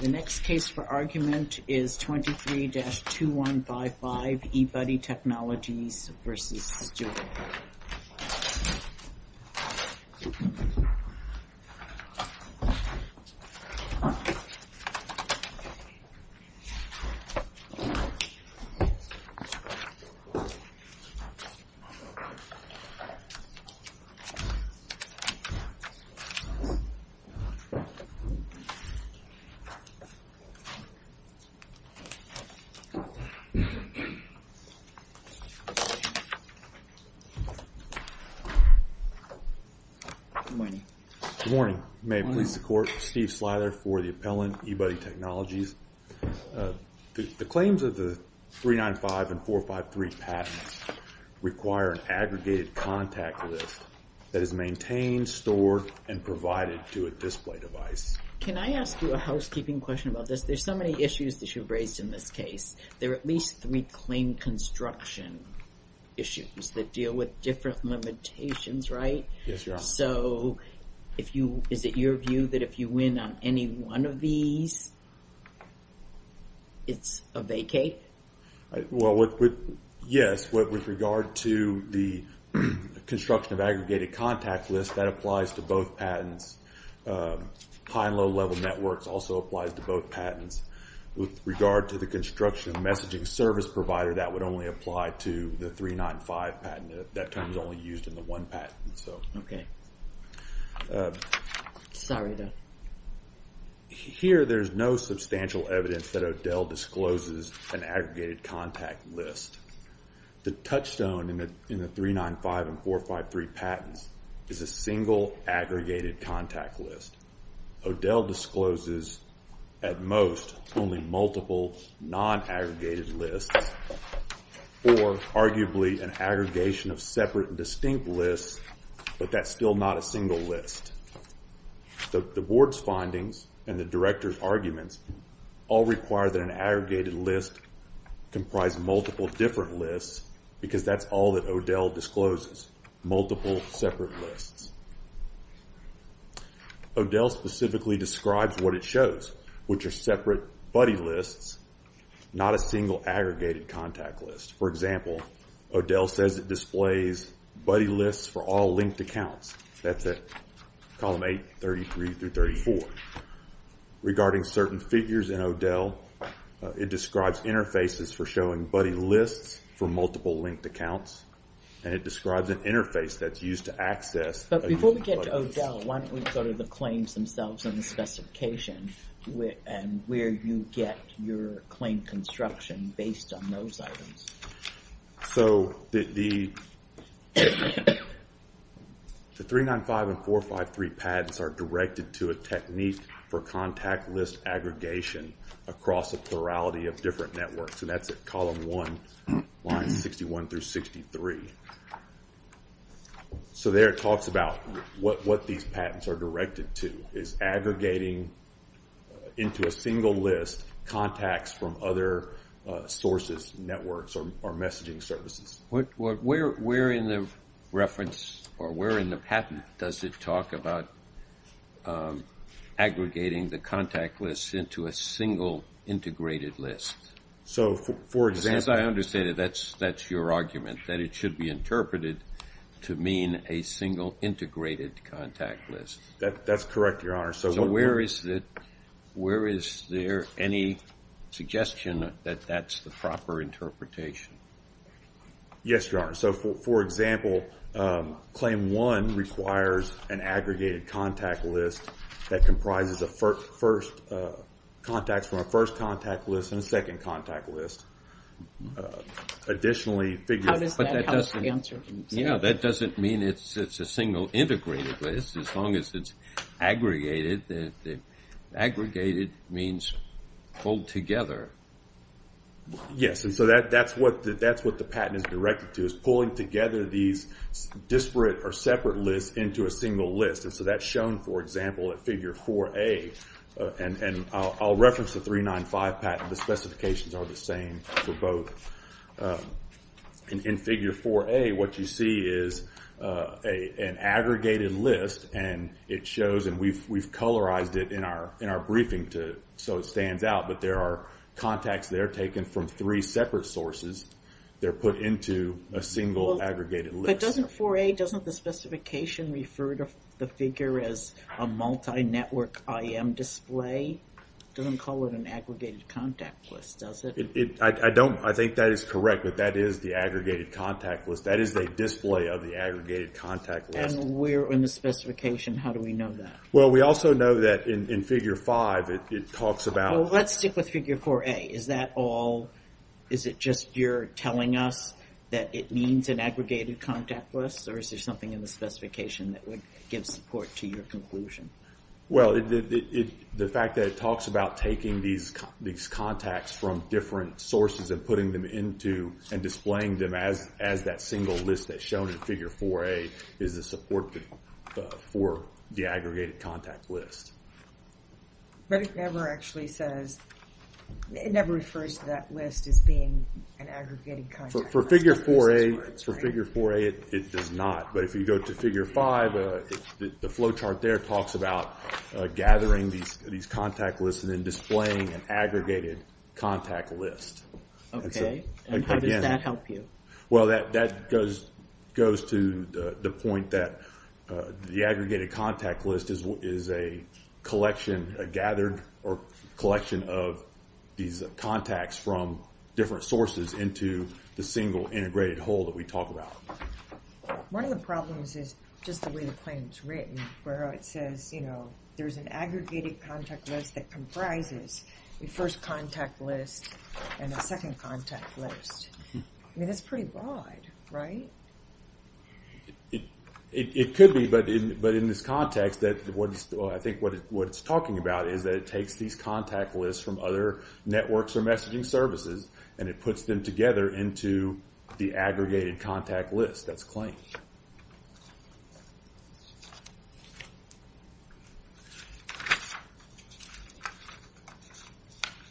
The next case for argument is 23-2155 eBuddy Technologies v. Stewart. Good morning, may it please the court, Steve Slither for the appellant, eBuddy Technologies. The claims of the 395 and 453 patents require an aggregated contact list that is maintained, stored, and provided to a display device. Can I ask you a housekeeping question about this? There's so many issues that you've raised in this case. There are at least three claim construction issues that deal with different limitations, right? Yes, Your Honor. So is it your view that if you win on any one of these, it's a vacate? Well, yes, with regard to the construction of aggregated contact list, that applies to both patents. High and low-level networks also applies to both patents. With regard to the construction of messaging service provider, that would only apply to the 395 patent. That term is only used in the one patent, so. Sorry. Here, there's no substantial evidence that O'Dell discloses an aggregated contact list. The touchstone in the 395 and 453 patents is a single aggregated contact list. O'Dell discloses, at most, only multiple non-aggregated lists, or arguably an aggregation of separate and distinct lists, but that's still not a single list. The board's findings and the director's arguments all require that an aggregated list comprise multiple different lists, because that's all that O'Dell discloses, multiple separate lists. O'Dell specifically describes what it shows, which are separate buddy lists, not a single aggregated contact list. For example, O'Dell says it displays buddy lists for all linked accounts. That's at column 8, 33 through 34. Regarding certain figures in O'Dell, it describes interfaces for showing buddy lists for multiple linked accounts, and it describes an interface that's used to access a unique buddy list. But before we get to O'Dell, why don't we go to the claims themselves and the specification, and where you get your claim construction based on those items. So the 395 and 453 patents are directed to a technique for contact list aggregation across a plurality of different networks, and that's at column 1, lines 61 through 63. So there it talks about what these patents are directed to, is aggregating into a single list contacts from other sources, networks, or messaging services. Where in the reference or where in the patent does it talk about aggregating the contact list into a single integrated list? So for example... Because as I understand it, that's your argument, that it should be interpreted to mean a single integrated contact list. That's correct, Your Honor. So where is it, where is there any suggestion that that's the proper interpretation? Yes, Your Honor. So for example, claim 1 requires an aggregated contact list that comprises of first contacts from a first contact list and a second contact list. Additionally... How does that answer? Yeah, that doesn't mean it's a single integrated list, as long as it's aggregated. Aggregated means pulled together. Yes, and so that's what the patent is directed to, is pulling together these disparate or separate lists into a single list, and so that's shown, for example, at figure 4A, and I'll reference the 395 patent, the specifications are the same for both. In figure 4A, what you see is an aggregated list, and it shows, and we've colorized it in our briefing so it stands out, but there are contacts that are taken from three separate sources that are put into a single aggregated list. But doesn't 4A, doesn't the specification refer to the figure as a multi-network IM display? It doesn't call it an aggregated contact list, does it? I don't, I think that is correct, but that is the aggregated contact list. That is a display of the aggregated contact list. And we're in the specification, how do we know that? Well, we also know that in figure 5, it talks about... Well, let's stick with figure 4A. Is that all, is it just you're telling us that it means an aggregated contact list, or is there something in the specification that would give support to your conclusion? Well, the fact that it talks about taking these contacts from different sources and putting them into, and displaying them as that single list that's shown in figure 4A is a support for the aggregated contact list. But it never actually says, it never refers to that list as being an aggregated contact list. For figure 4A, it does not. But if you go to figure 5, the flowchart there talks about gathering these contact lists and then displaying an aggregated contact list. Okay, and how does that help you? Well, that goes to the point that the aggregated contact list is a collection, a gathered collection of these contacts from different sources into the single integrated whole that we talk about. One of the problems is just the way the claim is written, where it says, you know, there's an aggregated contact list that comprises the first contact list and the second contact list. I mean, that's pretty broad, right? It could be, but in this context, I think what it's talking about is that it takes these contact lists from other networks or messaging services, and it puts them together into the aggregated contact list that's claimed.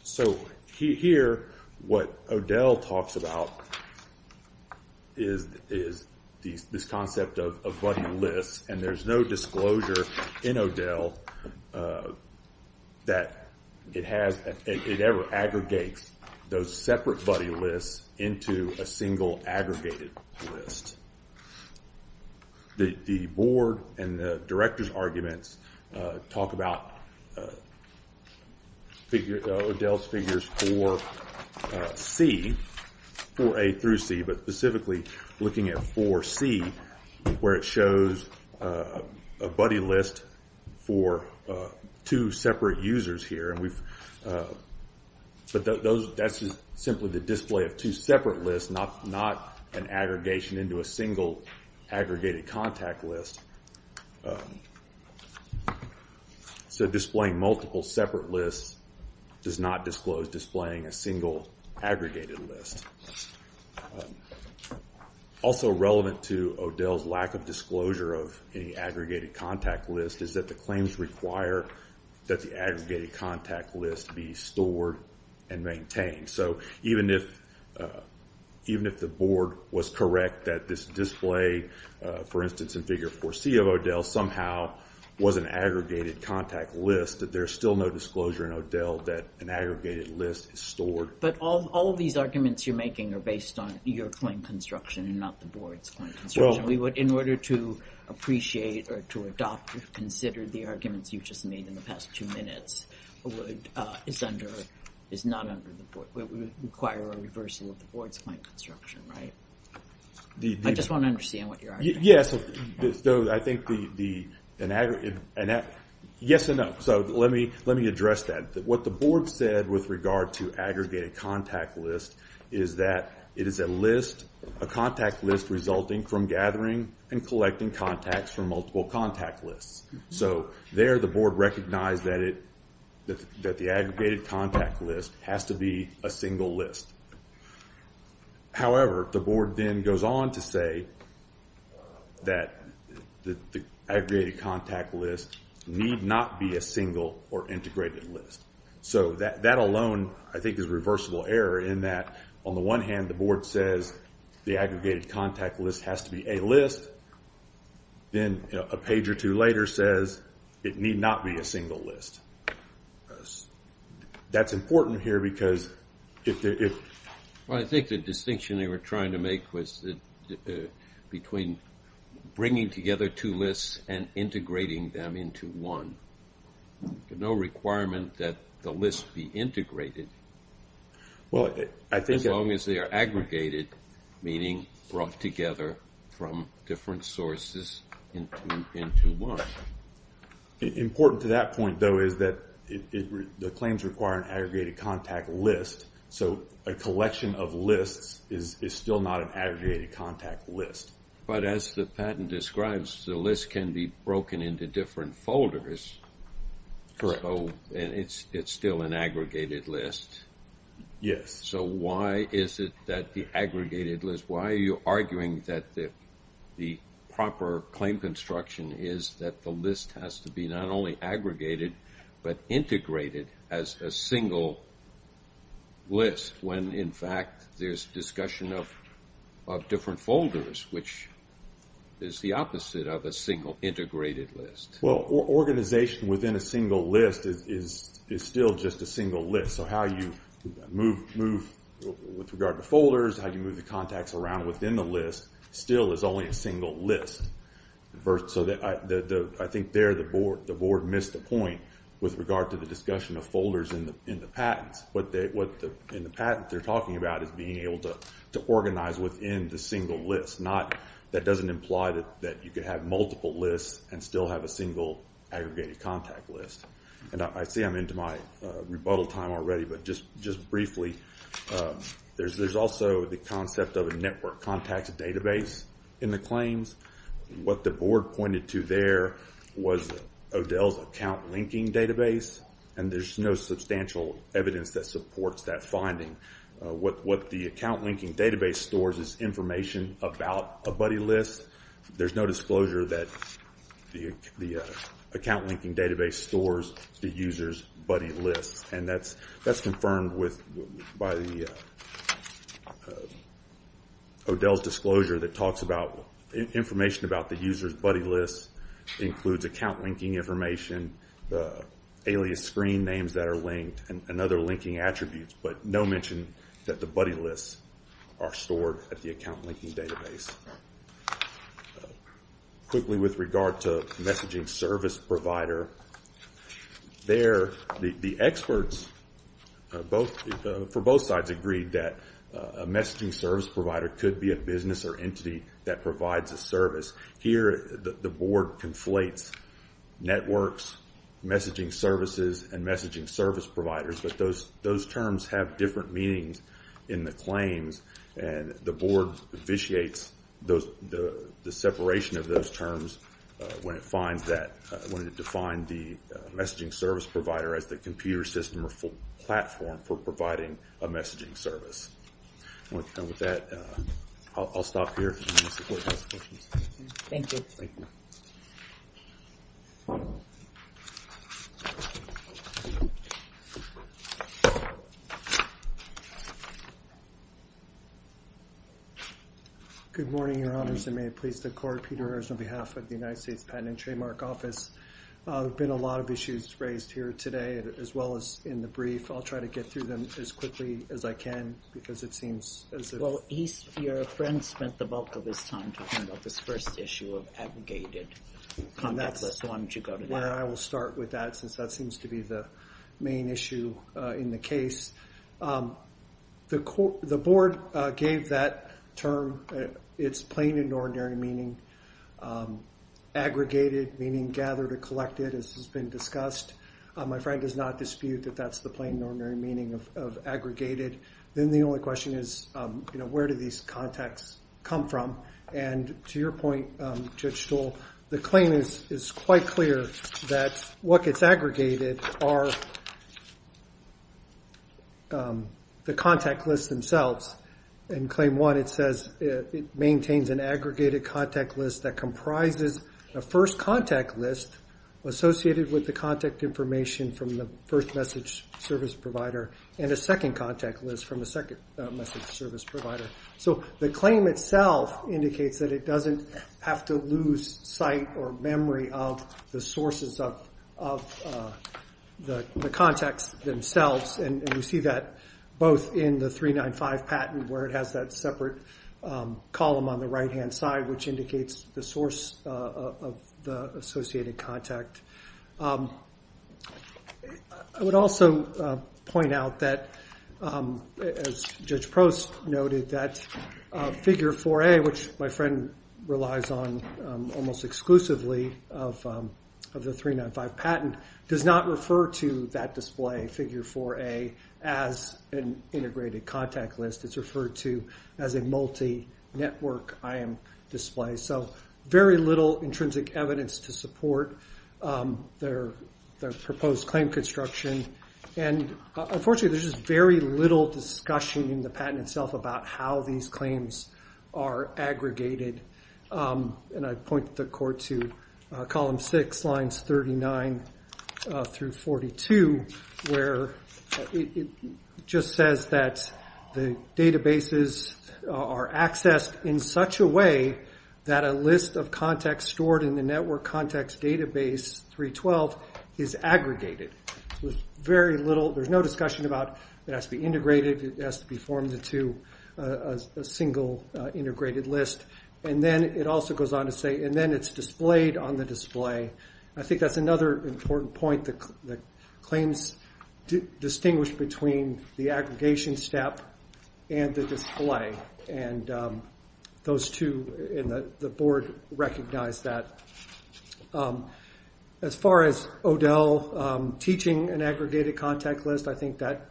So here, what Odell talks about is this concept of buddy lists, and there's no disclosure in Odell that it has, it ever aggregates those separate buddy lists into a single aggregated list. The board and the director's arguments talk about Odell's figures for C, 4A through C, but specifically looking at 4C, where it shows a buddy list for two separate users here, but that's simply the display of two separate lists, not an aggregation into a single aggregated contact list. So displaying multiple separate lists does not disclose displaying a single aggregated list. Also relevant to Odell's lack of disclosure of any aggregated contact list is that the claims require that the aggregated contact list be stored and maintained. So even if the board was correct that this display, for instance, in figure 4C of Odell, somehow was an aggregated contact list, that there's still no disclosure in Odell that an aggregated list is stored. But all of these arguments you're making are based on your claim construction and not the board's claim construction. We would, in order to appreciate or to adopt or consider the arguments you've just made in the past two minutes, would require a reversal of the board's claim construction, right? I just want to understand what you're arguing. Yes. So I think, yes and no. So let me address that. What the board said with regard to aggregated contact list is that it is a list, a contact list resulting from gathering and collecting contacts from multiple contact lists. So there the board recognized that the aggregated contact list has to be a single list. However, the board then goes on to say that the aggregated contact list need not be a single or integrated list. So that alone, I think, is a reversible error in that, on the one hand, the board says the aggregated contact list has to be a list, then a page or two later says it need not be a single list. That's important here because if there is... Well, I think the distinction they were trying to make was between bringing together two lists and integrating them into one. No requirement that the list be integrated as long as they are aggregated. Meaning brought together from different sources into one. Important to that point, though, is that the claims require an aggregated contact list. So a collection of lists is still not an aggregated contact list. But as the patent describes, the list can be broken into different folders, and it's still an aggregated list. Yes. So why is it that the aggregated list... Why are you arguing that the proper claim construction is that the list has to be not only aggregated but integrated as a single list when, in fact, there's discussion of different folders, which is the opposite of a single integrated list? Well, organization within a single list is still just a single list. So how you move with regard to folders, how you move the contacts around within the list still is only a single list. So I think there the board missed the point with regard to the discussion of folders in the patents. What in the patent they're talking about is being able to organize within the single list. That doesn't imply that you could have multiple lists and still have a single aggregated contact list. And I see I'm into my rebuttal time already, but just briefly, there's also the concept of a network contact database in the claims. What the board pointed to there was Odell's account linking database, and there's no substantial evidence that supports that finding. What the account linking database stores is information about a buddy list. There's no disclosure that the account linking database stores the user's buddy lists, and that's confirmed by Odell's disclosure that talks about information about the user's buddy lists includes account linking information, the alias screen names that are linked, and other linking attributes, but no mention that the buddy lists are stored at the account linking database. Quickly with regard to messaging service provider, the experts for both sides agreed that a messaging service provider could be a business or entity that provides a service. Here the board conflates networks, messaging services, and messaging service providers, but those terms have different meanings in the claims, and the board vitiates the separation of those terms when it finds that, when it defined the messaging service provider as the computer system or platform for providing a messaging service. With that, I'll stop here and support those questions. Thank you. Thank you. Good morning, your honors, and may it please the court, Peter Ayers on behalf of the United States Patent and Trademark Office. There have been a lot of issues raised here today, as well as in the brief. I'll try to get through them as quickly as I can, because it seems as if- Well, your friend spent the bulk of his time talking about this first issue of abrogated contact lists. Why don't you go to that? I will start with that, since that seems to be the main issue in the case. The board gave that term its plain and ordinary meaning, aggregated meaning, gathered or collected, as has been discussed. My friend does not dispute that that's the plain and ordinary meaning of aggregated. Then the only question is, where do these contacts come from? To your point, Judge Stoll, the claim is quite clear that what gets aggregated are the contact lists themselves. In claim one, it says it maintains an aggregated contact list that comprises a first contact list associated with the contact information from the first message service provider, and a second contact list from the second message service provider. The claim itself indicates that it doesn't have to lose sight or memory of the sources of the contacts themselves. We see that both in the 395 patent, where it has that separate column on the right-hand side, which indicates the source of the associated contact. I would also point out that, as Judge Prost noted, that figure 4A, which my friend relies on almost exclusively of the 395 patent, does not refer to that display, figure 4A, as an integrated contact list. It's referred to as a multi-network IM display. Very little intrinsic evidence to support their proposed claim construction. Unfortunately, there's just very little discussion in the patent itself about how these claims are aggregated. I point the court to column 6, lines 39 through 42, where it just says that the databases are accessed in such a way that a list of contacts stored in the network contacts database 312 is aggregated. There's no discussion about it has to be integrated, it has to be formed into a single integrated list. Then it also goes on to say, and then it's displayed on the display. I think that's another important point that claims distinguish between the aggregation step and the display. Those two in the board recognize that. As far as O'Dell teaching an aggregated contact list, I think that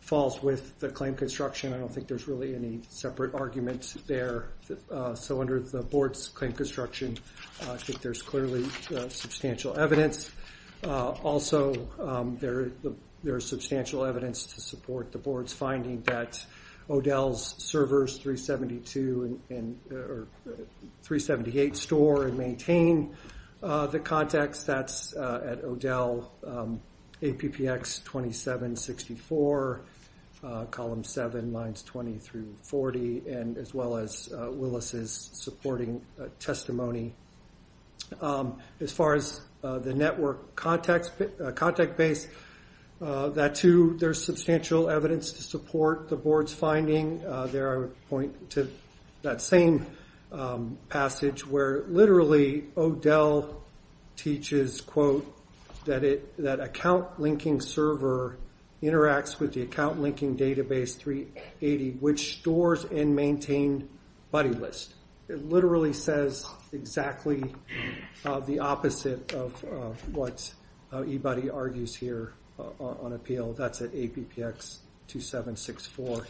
falls with the claim construction. I don't think there's really any separate arguments there. Under the board's claim construction, I think there's clearly substantial evidence. Also, there is substantial evidence to support the board's finding that O'Dell's servers 378 store and maintain the contacts. That's at O'Dell, APPX 2764, column 7, lines 20 through 40, as well as Willis's supporting testimony. As far as the network contact base, that too, there's substantial evidence to support the board's finding. There I would point to that same passage where literally O'Dell teaches, quote, that account linking server interacts with the account linking database 380, which stores and maintain buddy list. It literally says exactly the opposite of what eBuddy argues here on appeal. That's at APPX 2764.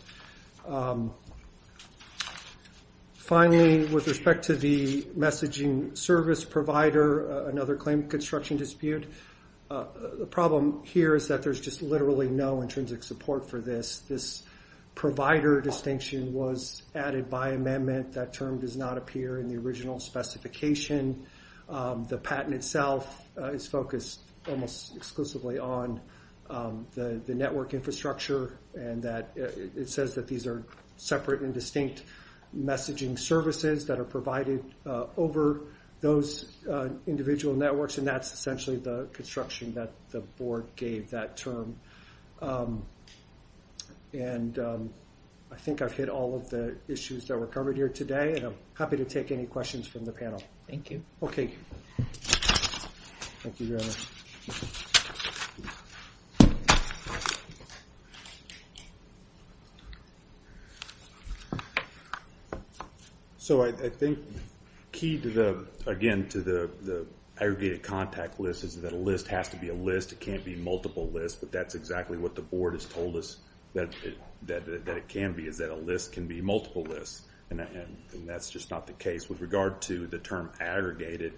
Finally, with respect to the messaging service provider, another claim construction dispute, the problem here is that there's just literally no intrinsic support for this. This provider distinction was added by amendment. That term does not appear in the original specification. The patent itself is focused almost exclusively on the network infrastructure. It says that these are separate and distinct messaging services that are provided over those individual networks, and that's essentially the construction that the board gave that term. I think I've hit all of the issues that were covered here today, and I'm happy to take any questions from the panel. Thank you. Okay. Thank you very much. So, I think key to the, again, to the aggregated contact list is that a list has to be a list. It can't be multiple lists, but that's exactly what the board has told us that it can be, is that a list can be multiple lists, and that's just not the case. With regard to the term aggregated,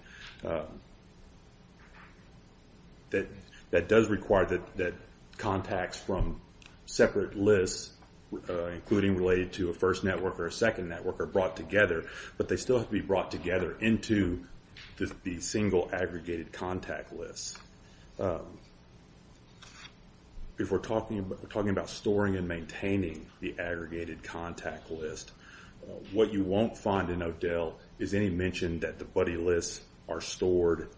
that does require that contacts from separate lists, including related to a first network or a second network, are brought together, but they still have to be brought together into the single aggregated contact list. If we're talking about storing and maintaining the aggregated contact list, what you won't find in ODEL is any mention that the buddy lists are stored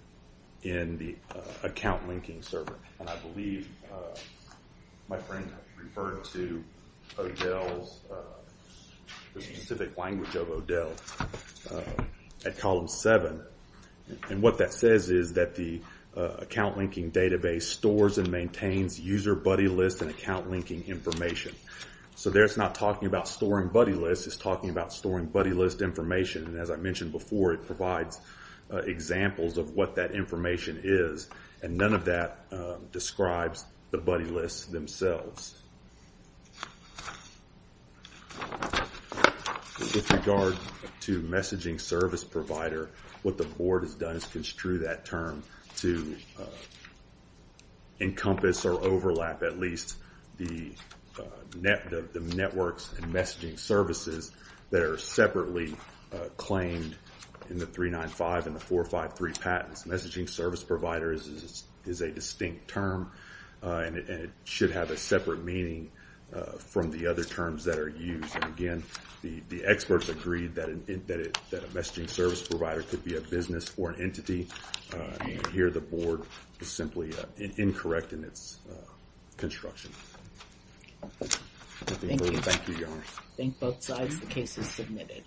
in the account linking server, and I believe my friend referred to ODEL's specific language of ODEL at column seven, and what that says is that the account linking database stores and maintains user buddy lists and account linking information. So there it's not talking about storing buddy lists, it's talking about storing buddy list information, and as I mentioned before, it provides examples of what that information is, and none of that describes the buddy lists themselves. With regard to messaging service provider, what the board has done is construe that term to encompass or overlap at least the networks and messaging services that are separately claimed in the 395 and the 453 patents. Messaging service provider is a distinct term, and it should have a separate meaning from the other terms that are used, and again, the experts agreed that a messaging service provider could be a business or an entity, and here the board is simply incorrect in its construction. Thank you. Thank you, Your Honor. I thank both sides. The case is submitted.